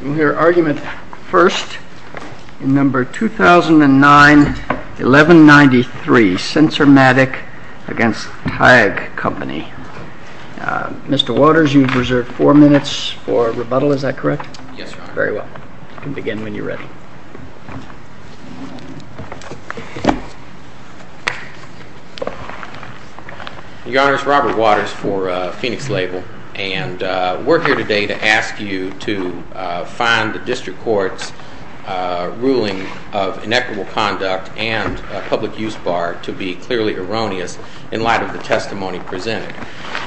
We'll hear argument first in No. 2009-1193, Censormatic v. Tag Company. Mr. Waters, you've reserved four minutes for rebuttal, is that correct? Yes, Your Honor. Very well. You can begin when you're ready. Your Honor, it's Robert Waters for Phoenix Label, and we're here today to ask you to find the District Court's ruling of inequitable conduct and public use bar to be clearly erroneous in light of the testimony presented.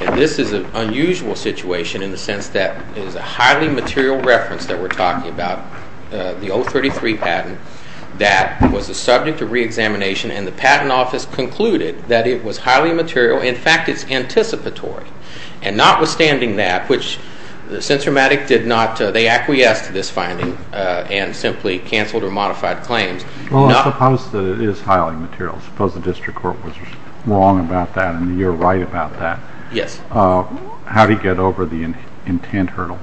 And this is an unusual situation in the sense that it is a highly material reference that we're talking about, the 033 patent, that was the subject of reexamination, and the Patent Office concluded that it was highly material. In fact, it's anticipatory. And notwithstanding that, which the Censormatic did not, they acquiesced to this finding and simply canceled or modified claims. Well, suppose that it is highly material. Suppose the District Court was wrong about that and you're right about that. Yes. How do you get over the intent hurdle?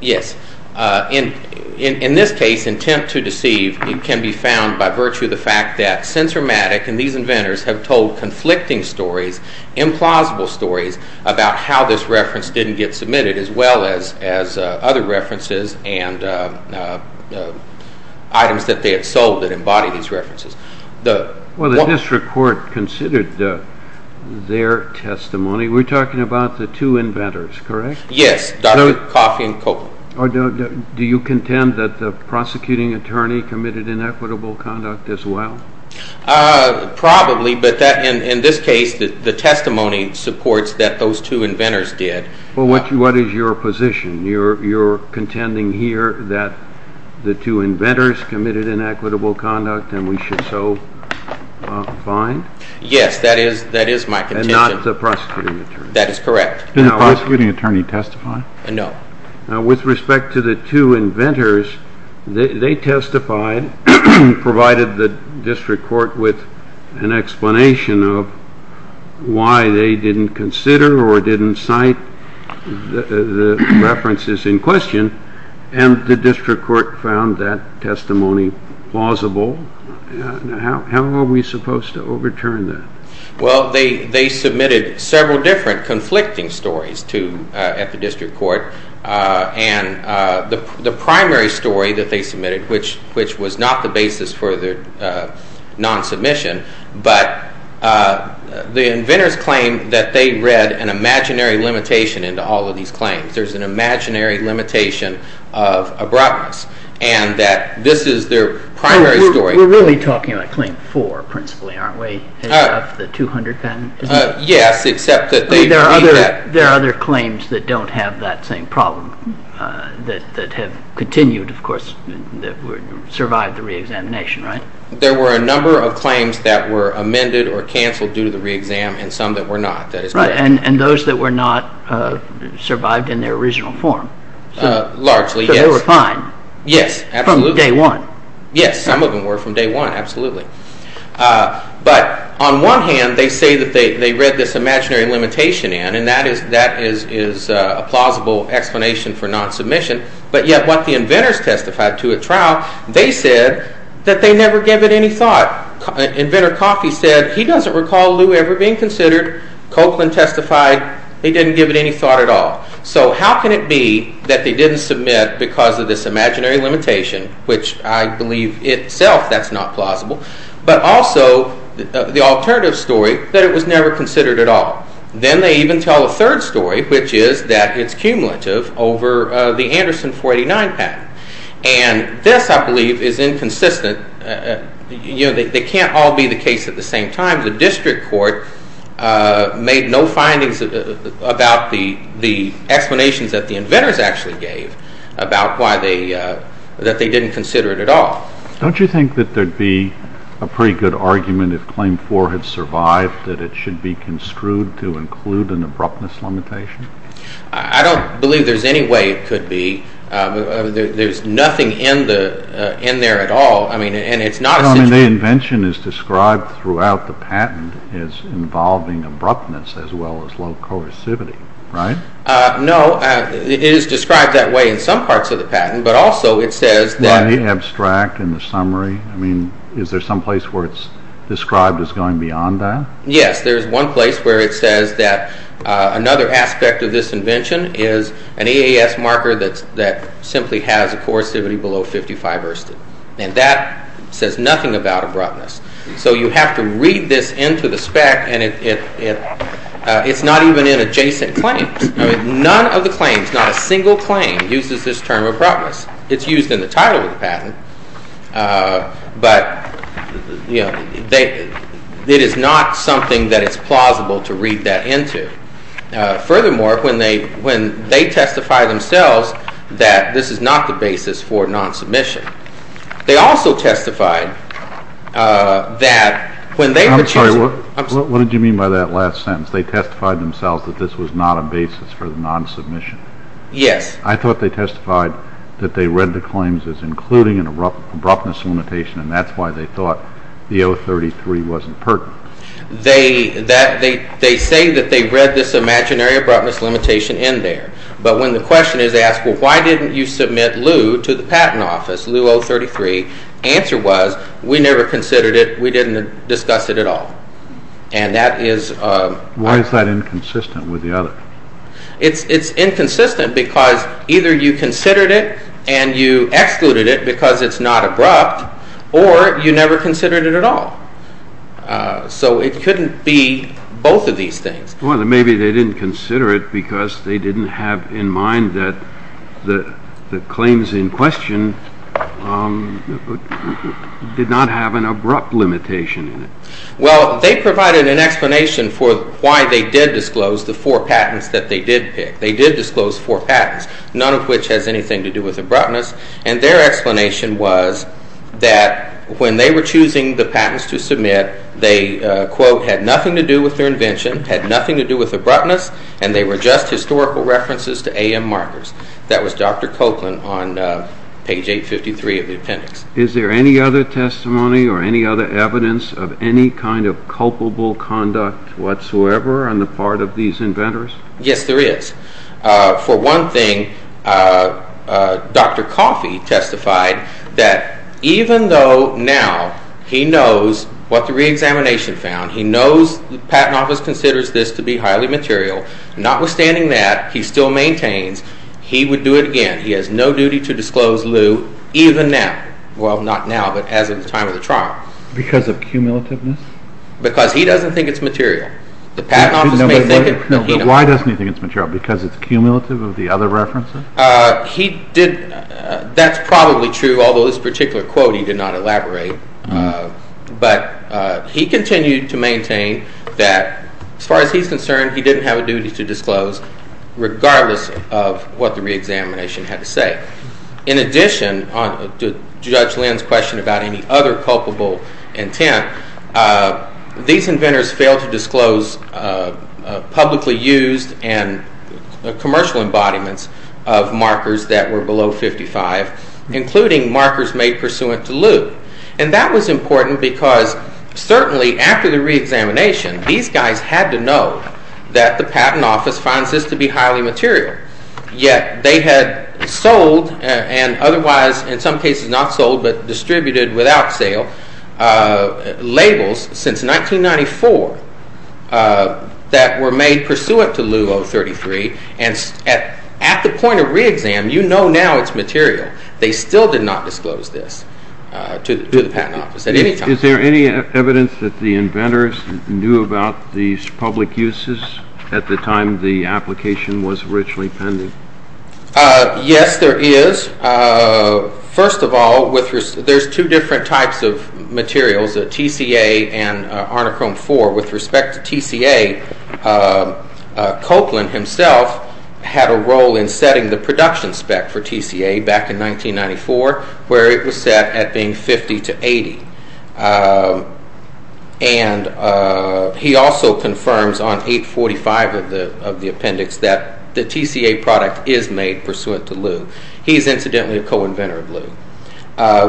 Yes. In this case, intent to deceive can be found by virtue of the fact that Censormatic and these inventors have told conflicting stories, implausible stories, about how this reference didn't get submitted as well as other references and items that they had sold that embody these references. Well, the District Court considered their testimony. We're talking about the two inventors, correct? Yes, Dr. Coffey and Copeland. Do you contend that the prosecuting attorney committed inequitable conduct as well? Probably, but in this case, the testimony supports that those two inventors did. Well, what is your position? You're contending here that the two inventors committed inequitable conduct and we should so find? Yes, that is my contention. And not the prosecuting attorney. That is correct. Did the prosecuting attorney testify? No. With respect to the two inventors, they testified, provided the District Court with an explanation of why they didn't consider or didn't cite the references in question, and the District Court found that testimony plausible. How are we supposed to overturn that? Well, they submitted several different conflicting stories at the District Court, and the primary story that they submitted, which was not the basis for their non-submission, but the inventors claimed that they read an imaginary limitation into all of these claims. There's an imaginary limitation of abruptness, and that this is their primary story. We're really talking about Claim 4, principally, aren't we, of the 200 patents? Yes, except that they read that. There are other claims that don't have that same problem, that have continued, of course, that survived the re-examination, right? There were a number of claims that were amended or canceled due to the re-exam, and some that were not. Right, and those that were not survived in their original form. Largely, yes. So they were fine. Yes, absolutely. From day one. Yes, some of them were from day one, absolutely. But on one hand, they say that they read this imaginary limitation in, and that is a plausible explanation for non-submission. But yet, what the inventors testified to at trial, they said that they never gave it any thought. Inventor Coffey said, he doesn't recall Lew ever being considered. Copeland testified, they didn't give it any thought at all. So how can it be that they didn't submit because of this imaginary limitation, which I believe itself that's not plausible, but also the alternative story that it was never considered at all. Then they even tell a third story, which is that it's cumulative over the Anderson 489 patent. And this, I believe, is inconsistent. You know, they can't all be the case at the same time. The district court made no findings about the explanations that the inventors actually gave about why they didn't consider it at all. Don't you think that there'd be a pretty good argument if Claim 4 had survived, that it should be construed to include an abruptness limitation? I don't believe there's any way it could be. There's nothing in there at all. The invention is described throughout the patent as involving abruptness as well as low coercivity, right? No, it is described that way in some parts of the patent, but also it says that... By the abstract and the summary? I mean, is there some place where it's described as going beyond that? Yes, there's one place where it says that another aspect of this invention is an EAS marker that simply has a coercivity below 55 Erston. And that says nothing about abruptness. So you have to read this into the spec, and it's not even in adjacent claims. None of the claims, not a single claim, uses this term abruptness. It's used in the title of the patent, but it is not something that it's plausible to read that into. Furthermore, when they testify themselves that this is not the basis for non-submission, they also testified that when they were choosing... I'm sorry, what did you mean by that last sentence? They testified themselves that this was not a basis for the non-submission? Yes. I thought they testified that they read the claims as including an abruptness limitation, and that's why they thought the 033 wasn't pertinent. They say that they read this imaginary abruptness limitation in there, but when the question is asked, well, why didn't you submit Lew to the patent office, Lew 033, the answer was, we never considered it, we didn't discuss it at all. And that is... Why is that inconsistent with the other? It's inconsistent because either you considered it and you excluded it because it's not abrupt, or you never considered it at all. So it couldn't be both of these things. Well, then maybe they didn't consider it because they didn't have in mind that the claims in question did not have an abrupt limitation in it. Well, they provided an explanation for why they did disclose the four patents that they did pick. They did disclose four patents, none of which has anything to do with abruptness, and their explanation was that when they were choosing the patents to submit, they, quote, had nothing to do with their invention, had nothing to do with abruptness, and they were just historical references to AM markers. That was Dr. Copeland on page 853 of the appendix. Is there any other testimony or any other evidence of any kind of culpable conduct whatsoever on the part of these inventors? Yes, there is. For one thing, Dr. Coffey testified that even though now he knows what the reexamination found, he knows the Patent Office considers this to be highly material, notwithstanding that, he still maintains he would do it again. He has no duty to disclose lieu even now. Well, not now, but as of the time of the trial. Because of cumulativeness? Because he doesn't think it's material. Why doesn't he think it's material? Because it's cumulative of the other references? That's probably true, although this particular quote he did not elaborate. But he continued to maintain that, as far as he's concerned, he didn't have a duty to disclose, regardless of what the reexamination had to say. In addition to Judge Lynn's question about any other culpable intent, these inventors failed to disclose publicly used and commercial embodiments of markers that were below 55, including markers made pursuant to lieu. And that was important because, certainly, after the reexamination, these guys had to know that the Patent Office finds this to be highly material. Yet they had sold, and otherwise, in some cases not sold, but distributed without sale, labels since 1994 that were made pursuant to lieu 033. And at the point of reexam, you know now it's material. They still did not disclose this to the Patent Office at any time. Is there any evidence that the inventors knew about these public uses at the time the application was originally pending? Yes, there is. First of all, there's two different types of materials, TCA and Arnicrome 4. With respect to TCA, Copeland himself had a role in setting the production spec for TCA back in 1994, where it was set at being 50 to 80. And he also confirms on 845 of the appendix that the TCA product is made pursuant to lieu. He is, incidentally, a co-inventor of lieu.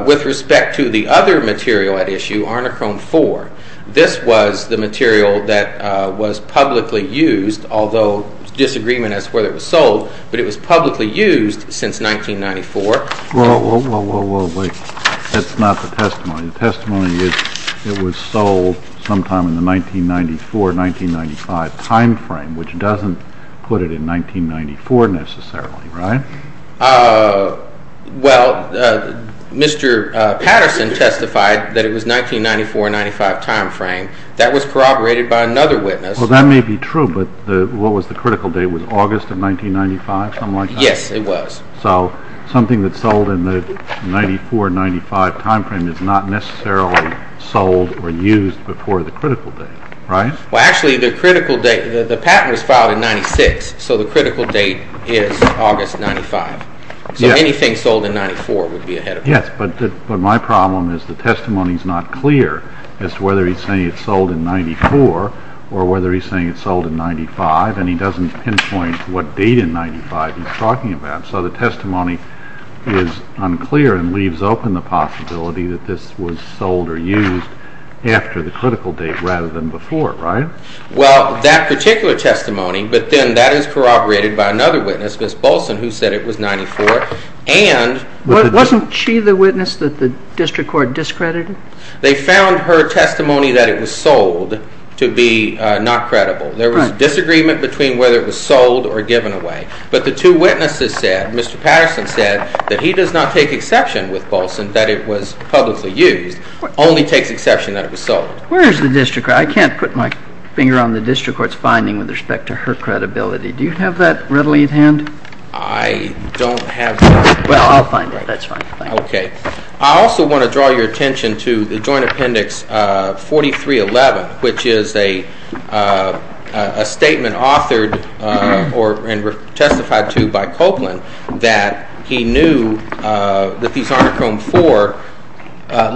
With respect to the other material at issue, Arnicrome 4, this was the material that was publicly used, although disagreement as to whether it was sold, but it was publicly used since 1994. Well, wait. That's not the testimony. The testimony is it was sold sometime in the 1994-1995 time frame, which doesn't put it in 1994 necessarily, right? Well, Mr. Patterson testified that it was 1994-1995 time frame. That was corroborated by another witness. Well, that may be true, but what was the critical date? Was August of 1995, something like that? Yes, it was. So something that's sold in the 1994-1995 time frame is not necessarily sold or used before the critical date, right? Well, actually, the patent was filed in 1996, so the critical date is August of 1995. So anything sold in 1994 would be ahead of time. Yes, but my problem is the testimony is not clear as to whether he's saying it's sold in 1994 or whether he's saying it's sold in 1995, and he doesn't pinpoint what date in 1995 he's talking about. So the testimony is unclear and leaves open the possibility that this was sold or used after the critical date rather than before, right? Well, that particular testimony, but then that is corroborated by another witness, Ms. Bolson, who said it was 1994. Wasn't she the witness that the district court discredited? They found her testimony that it was sold to be not credible. There was a disagreement between whether it was sold or given away, but the two witnesses said, Mr. Patterson said, that he does not take exception with Bolson that it was publicly used, only takes exception that it was sold. Where is the district court? I can't put my finger on the district court's finding with respect to her credibility. Do you have that readily at hand? I don't have that. Well, I'll find it. That's fine. Okay. I also want to draw your attention to the Joint Appendix 4311, which is a statement authored and testified to by Copeland that he knew that these Arnachrome 4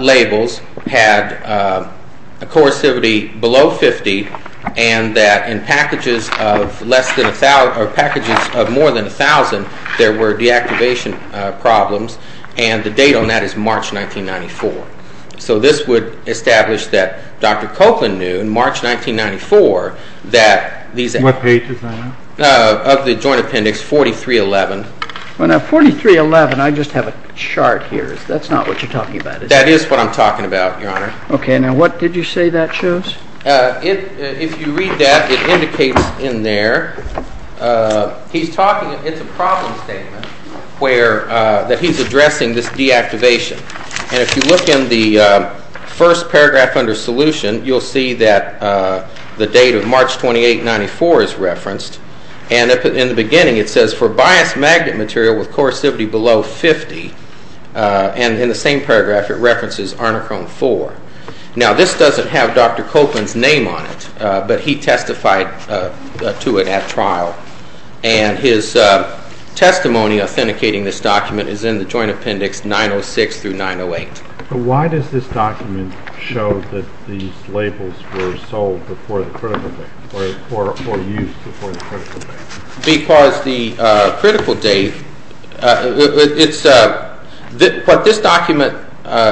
labels had a coercivity below 50 and that in packages of more than 1,000, there were deactivation problems, and the date on that is March 1994. So this would establish that Dr. Copeland knew in March 1994 that these… What page is that on? Of the Joint Appendix 4311. Well, now, 4311, I just have a chart here. That's not what you're talking about, is it? That is what I'm talking about, Your Honor. Okay. Now, what did you say that shows? If you read that, it indicates in there, he's talking, it's a problem statement that he's addressing this deactivation. And if you look in the first paragraph under solution, you'll see that the date of March 2894 is referenced. And in the beginning, it says, for bias magnet material with coercivity below 50, and in the same paragraph, it references Arnachrome 4. Now, this doesn't have Dr. Copeland's name on it, but he testified to it at trial. And his testimony authenticating this document is in the Joint Appendix 906 through 908. But why does this document show that these labels were sold before the critical date, or used before the critical date? Because the critical date, what this document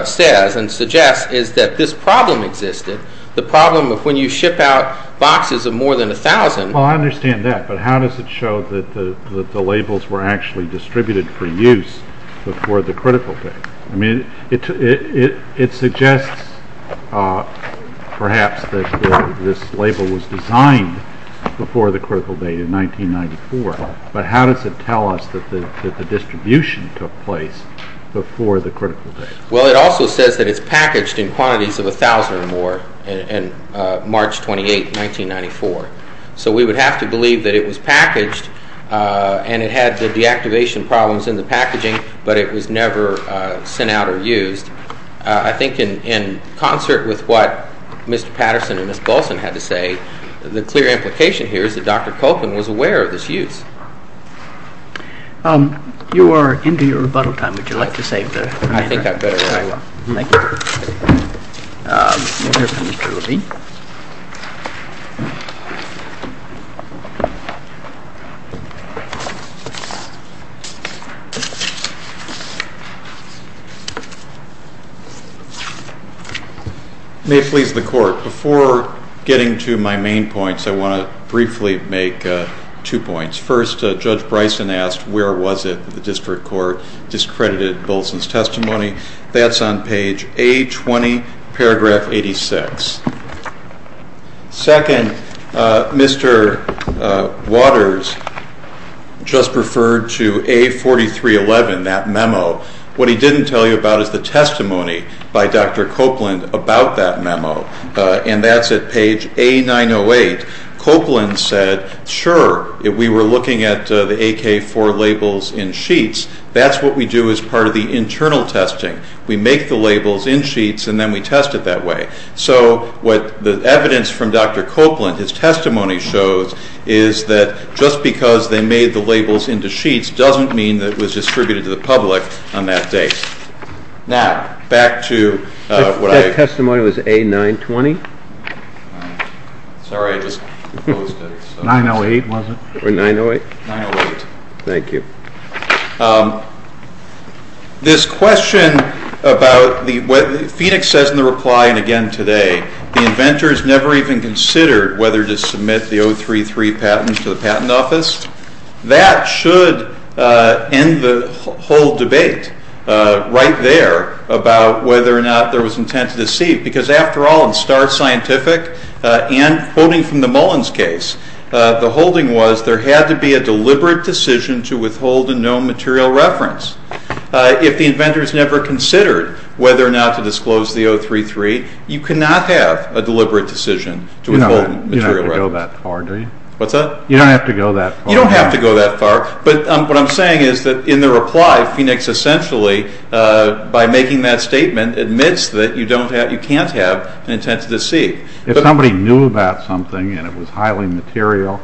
says and suggests is that this problem existed. The problem of when you ship out boxes of more than 1,000… Well, I understand that, but how does it show that the labels were actually distributed for use before the critical date? I mean, it suggests perhaps that this label was designed before the critical date in 1994, but how does it tell us that the distribution took place before the critical date? Well, it also says that it's packaged in quantities of 1,000 or more in March 28, 1994. So we would have to believe that it was packaged, and it had the deactivation problems in the packaging, but it was never sent out or used. I think in concert with what Mr. Patterson and Ms. Paulson had to say, the clear implication here is that Dr. Copeland was aware of this use. You are into your rebuttal time. Would you like to save the matter? I think I'd better go. Thank you. Mr. Levine. May it please the Court. Before getting to my main points, I want to briefly make two points. First, Judge Bryson asked where was it that the district court discredited Bolson's testimony. That's on page A20, paragraph 86. Second, Mr. Waters just referred to A4311, that memo. What he didn't tell you about is the testimony by Dr. Copeland about that memo, and that's at page A908. Copeland said, sure, if we were looking at the AK-4 labels in sheets, that's what we do as part of the internal testing. We make the labels in sheets, and then we test it that way. So what the evidence from Dr. Copeland, his testimony shows, is that just because they made the labels into sheets doesn't mean that it was distributed to the public on that date. Now, back to what I— That testimony was A920? Sorry, I just closed it. 908, was it? 908. 908. Thank you. This question about what Phoenix says in the reply, and again today, the inventor has never even considered whether to submit the 033 patent to the Patent Office. That should end the whole debate right there about whether or not there was intent to deceive, because after all, in Starr Scientific and quoting from the Mullins case, the holding was there had to be a deliberate decision to withhold a known material reference. If the inventor has never considered whether or not to disclose the 033, you cannot have a deliberate decision to withhold a material reference. You don't have to go that far, do you? What's that? You don't have to go that far. You don't have to go that far, but what I'm saying is that in the reply, Phoenix essentially, by making that statement, admits that you can't have an intent to deceive. If somebody knew about something and it was highly material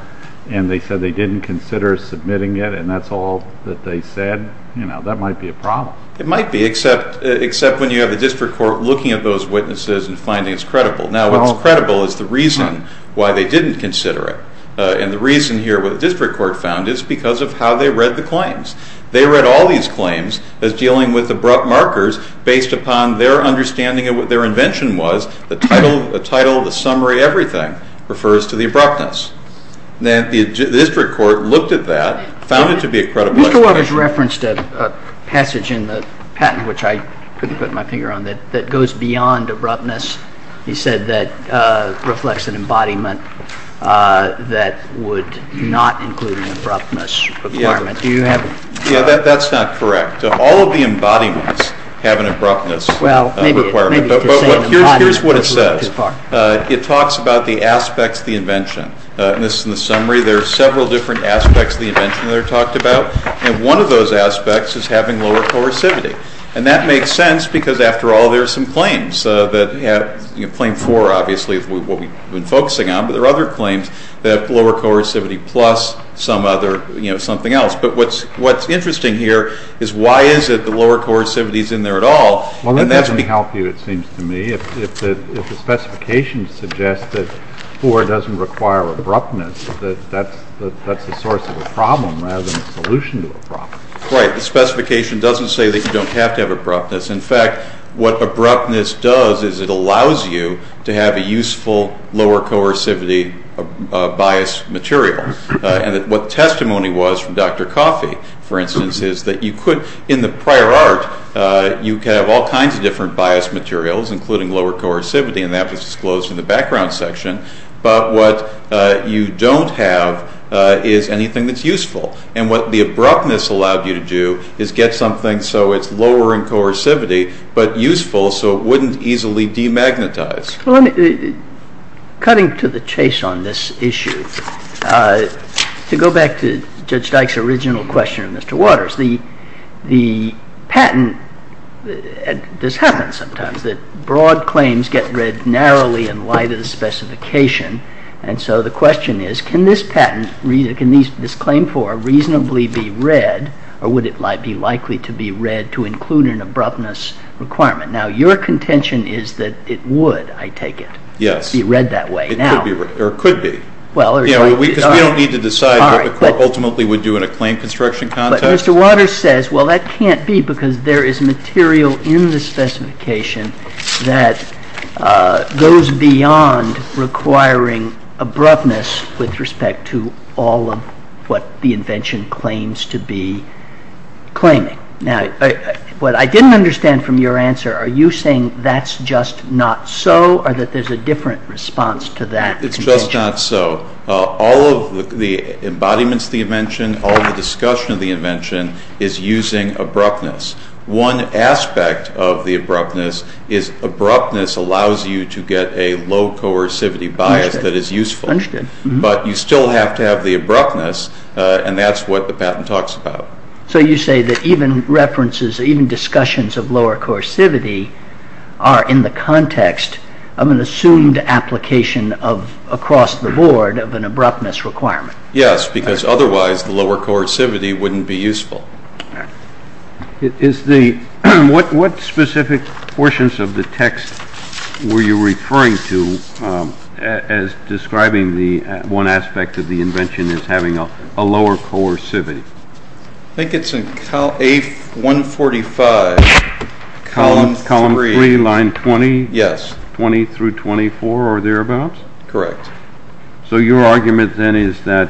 and they said they didn't consider submitting it and that's all that they said, that might be a problem. It might be, except when you have the district court looking at those witnesses and finding it's credible. Now, what's credible is the reason why they didn't consider it, and the reason here what the district court found is because of how they read the claims. They read all these claims as dealing with abrupt markers based upon their understanding of what their invention was, the title, the summary, everything refers to the abruptness. The district court looked at that, found it to be a credible explanation. Mr. Waters referenced a passage in the patent, which I couldn't put my finger on, that goes beyond abruptness. He said that reflects an embodiment that would not include an abruptness requirement. Yeah, that's not correct. All of the embodiments have an abruptness requirement. Here's what it says. It talks about the aspects of the invention. In the summary, there are several different aspects of the invention that are talked about, and one of those aspects is having lower coercivity. And that makes sense because, after all, there are some claims that have, claim four, obviously, is what we've been focusing on, but there are other claims that have lower coercivity plus some other, you know, something else. But what's interesting here is why is it the lower coercivity is in there at all, Well, that doesn't help you, it seems to me. If the specification suggests that four doesn't require abruptness, that that's the source of a problem rather than a solution to a problem. Right. The specification doesn't say that you don't have to have abruptness. In fact, what abruptness does is it allows you to have a useful lower coercivity bias material. And what testimony was from Dr. Coffey, for instance, is that you could, in the prior art, you could have all kinds of different bias materials, including lower coercivity, and that was disclosed in the background section. But what you don't have is anything that's useful. And what the abruptness allowed you to do is get something so it's lower in coercivity, but useful so it wouldn't easily demagnetize. Cutting to the chase on this issue, to go back to Judge Dyke's original question of Mr. Waters, the patent does happen sometimes, that broad claims get read narrowly in light of the specification. And so the question is, can this patent, can this claim for a reasonably be read, or would it be likely to be read to include an abruptness requirement? Now, your contention is that it would, I take it, be read that way. Yes, it could be. Because we don't need to decide what the court ultimately would do in a claim construction context. But Mr. Waters says, well, that can't be because there is material in the specification that goes beyond requiring abruptness with respect to all of what the invention claims to be claiming. Now, what I didn't understand from your answer, are you saying that's just not so, or that there's a different response to that contention? It's just not so. All of the embodiments of the invention, all the discussion of the invention is using abruptness. One aspect of the abruptness is abruptness allows you to get a low coercivity bias that is useful. Understood. But you still have to have the abruptness, and that's what the patent talks about. So you say that even references, even discussions of lower coercivity, are in the context of an assumed application across the board of an abruptness requirement. Yes, because otherwise the lower coercivity wouldn't be useful. What specific portions of the text were you referring to as describing one aspect of the invention as having a lower coercivity? I think it's in A145, column 3. Column 3, line 20? Yes. 20 through 24 or thereabouts? Correct. So your argument then is that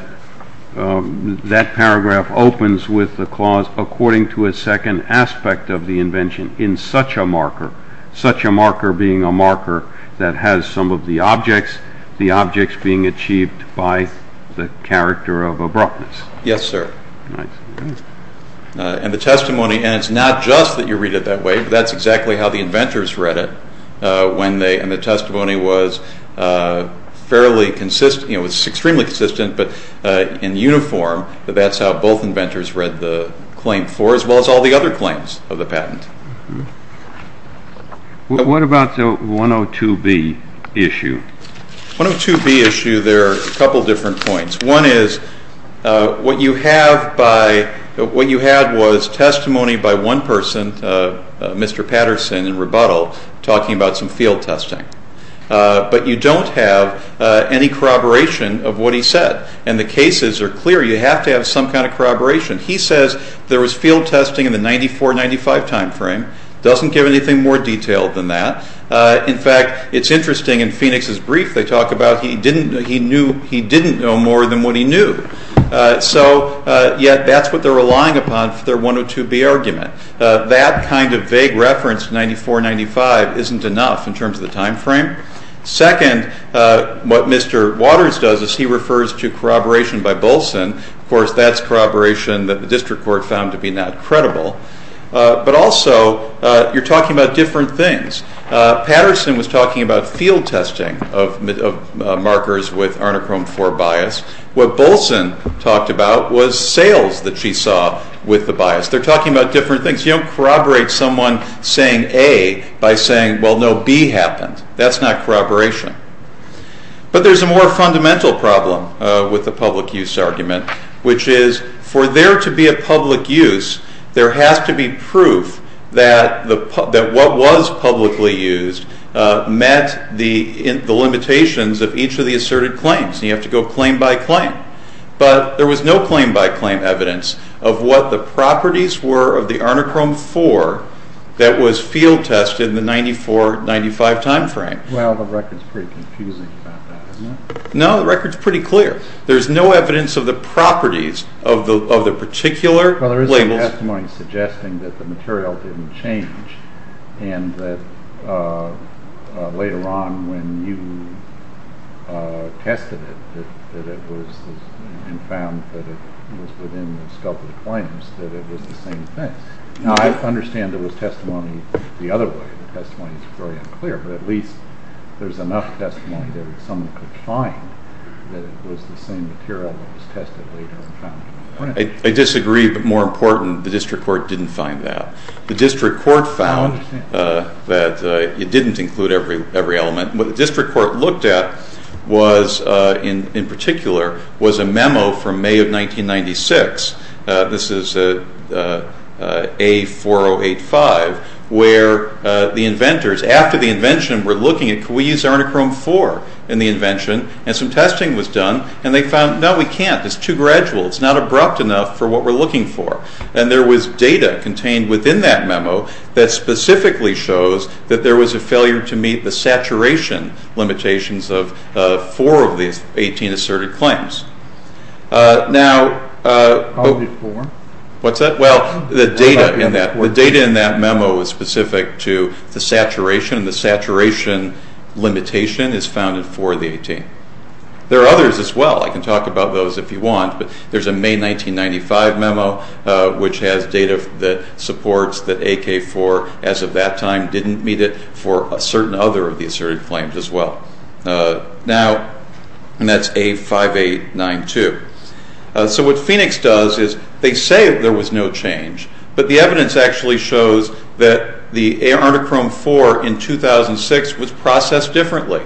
that paragraph opens with a clause according to a second aspect of the invention in such a marker, such a marker being a marker that has some of the objects, the objects being achieved by the character of abruptness. Yes, sir. And the testimony, and it's not just that you read it that way, but that's exactly how the inventors read it when they, and the testimony was fairly consistent, it was extremely consistent, but in uniform that that's how both inventors read the claim for, as well as all the other claims of the patent. What about the 102B issue? 102B issue, there are a couple of different points. One is what you have by, what you had was testimony by one person, Mr. Patterson in rebuttal, talking about some field testing, but you don't have any corroboration of what he said, and the cases are clear, you have to have some kind of corroboration. He says there was field testing in the 94-95 time frame, doesn't give anything more detailed than that. In fact, it's interesting in Phoenix's brief they talk about he didn't, no more than what he knew. So, yet that's what they're relying upon for their 102B argument. That kind of vague reference to 94-95 isn't enough in terms of the time frame. Second, what Mr. Waters does is he refers to corroboration by Bolson, of course that's corroboration that the district court found to be not credible, but also you're talking about different things. Patterson was talking about field testing of markers with Arnachrome 4 bias. What Bolson talked about was sales that she saw with the bias. They're talking about different things. You don't corroborate someone saying A by saying, well, no, B happened. That's not corroboration. But there's a more fundamental problem with the public use argument, which is for there to be a public use, there has to be proof that what was publicly used met the limitations of each of the asserted claims. You have to go claim by claim. But there was no claim by claim evidence of what the properties were of the Arnachrome 4 that was field tested in the 94-95 time frame. Well, the record's pretty confusing about that, isn't it? No, the record's pretty clear. There's no evidence of the properties of the particular labels. Well, there is some testimony suggesting that the material didn't change and that later on when you tested it and found that it was within the sculpted claims, that it was the same thing. Now, I understand there was testimony the other way. The testimony's very unclear, but at least there's enough testimony that someone could find that it was the same material that was tested later on. I disagree, but more important, the district court didn't find that. The district court found that it didn't include every element. What the district court looked at in particular was a memo from May of 1996. This is A4085, where the inventors, after the invention, were looking at, can we use Arnachrome 4 in the invention? And some testing was done, and they found, no, we can't. It's too gradual. It's not abrupt enough for what we're looking for. And there was data contained within that memo that specifically shows that there was a failure to meet the saturation limitations of four of the 18 asserted claims. Now, what's that? Well, the data in that memo was specific to the saturation, and the saturation limitation is found in four of the 18. There are others as well. I can talk about those if you want, but there's a May 1995 memo, which has data that supports that AK4, as of that time, didn't meet it for a certain other of the asserted claims as well. Now, and that's A5892. So what Phoenix does is they say there was no change, but the evidence actually shows that the Arnachrome 4 in 2006 was processed differently,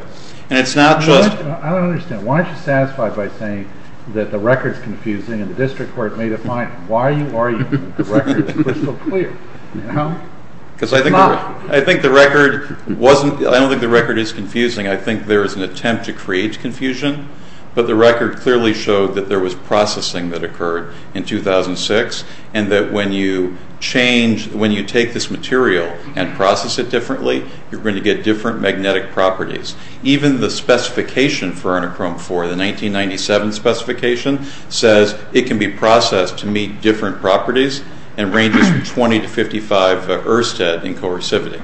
and it's not just... I don't understand. Why aren't you satisfied by saying that the record's confusing and the district court made a fine? Why are you arguing that the record is crystal clear? Because I think the record wasn't... I think there was an attempt to create confusion, but the record clearly showed that there was processing that occurred in 2006 and that when you take this material and process it differently, you're going to get different magnetic properties. Even the specification for Arnachrome 4, the 1997 specification, says it can be processed to meet different properties and ranges from 20 to 55 ERSTED in coercivity.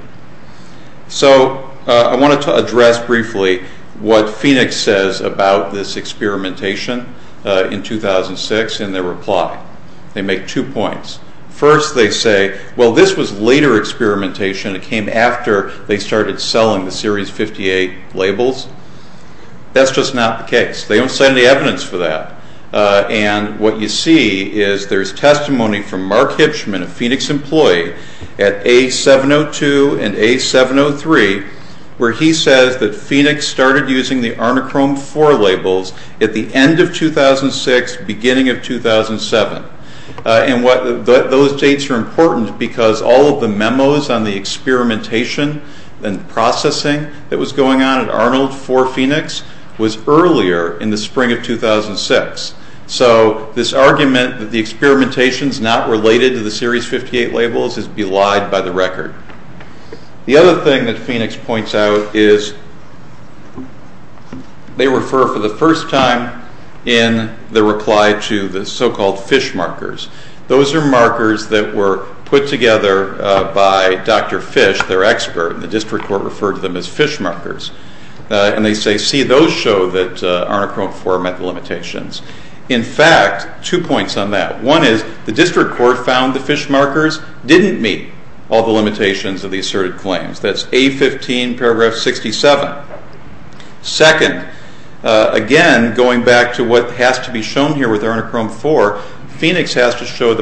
So I wanted to address briefly what Phoenix says about this experimentation in 2006 in their reply. They make two points. First they say, well, this was later experimentation. It came after they started selling the Series 58 labels. That's just not the case. They don't say any evidence for that, and what you see is there's testimony from Mark Hipschman, a Phoenix employee, at A702 and A703 where he says that Phoenix started using the Arnachrome 4 labels at the end of 2006, beginning of 2007. Those dates are important because all of the memos on the experimentation and processing that was going on at Arnold for Phoenix was earlier in the spring of 2006. So this argument that the experimentation is not related to the Series 58 labels is belied by the record. The other thing that Phoenix points out is they refer for the first time in the reply to the so-called FISH markers. Those are markers that were put together by Dr. FISH, their expert, and the district court referred to them as FISH markers. And they say, see, those show that Arnachrome 4 met the limitations. In fact, two points on that. One is the district court found the FISH markers didn't meet all the limitations of the asserted claims. That's A15, paragraph 67. Second, again, going back to what has to be shown here with Arnachrome 4, Phoenix has to show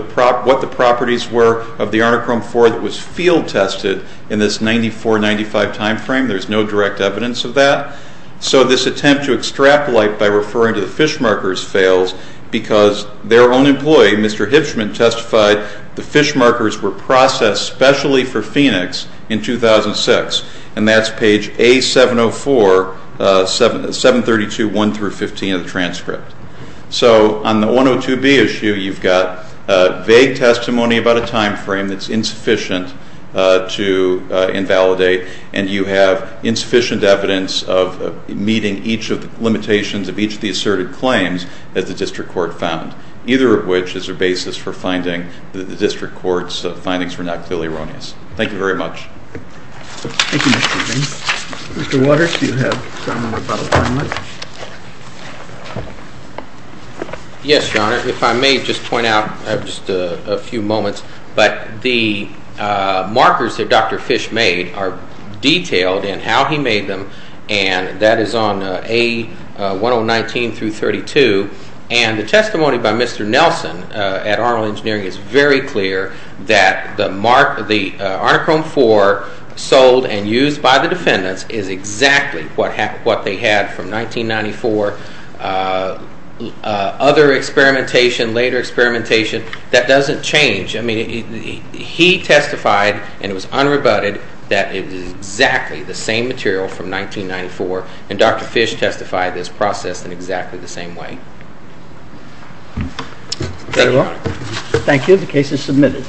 what the properties were of the Arnachrome 4 that was field tested in this 94-95 time frame. There's no direct evidence of that. So this attempt to extrapolate by referring to the FISH markers fails because their own employee, Mr. Hipschman, testified the FISH markers were processed specially for Phoenix in 2006, and that's page A704, 732.1-15 of the transcript. So on the 102B issue, you've got vague testimony about a time frame that's insufficient to invalidate, and you have insufficient evidence of meeting each of the limitations of each of the asserted claims that the district court found, either of which is a basis for finding that the district court's findings were not clearly erroneous. Thank you very much. Thank you, Mr. Green. Mr. Waters, do you have a comment about the timeline? Yes, Your Honor. If I may just point out just a few moments, but the markers that Dr. Fish made are detailed in how he made them, and that is on A1019-32, and the testimony by Mr. Nelson at Arnold Engineering is very clear that the Arnachrome 4 sold and used by the defendants is exactly what they had from 1994. Other experimentation, later experimentation, that doesn't change. I mean, he testified, and it was unrebutted, that it was exactly the same material from 1994, and Dr. Fish testified this process in exactly the same way. Is that all? Thank you. The case is submitted.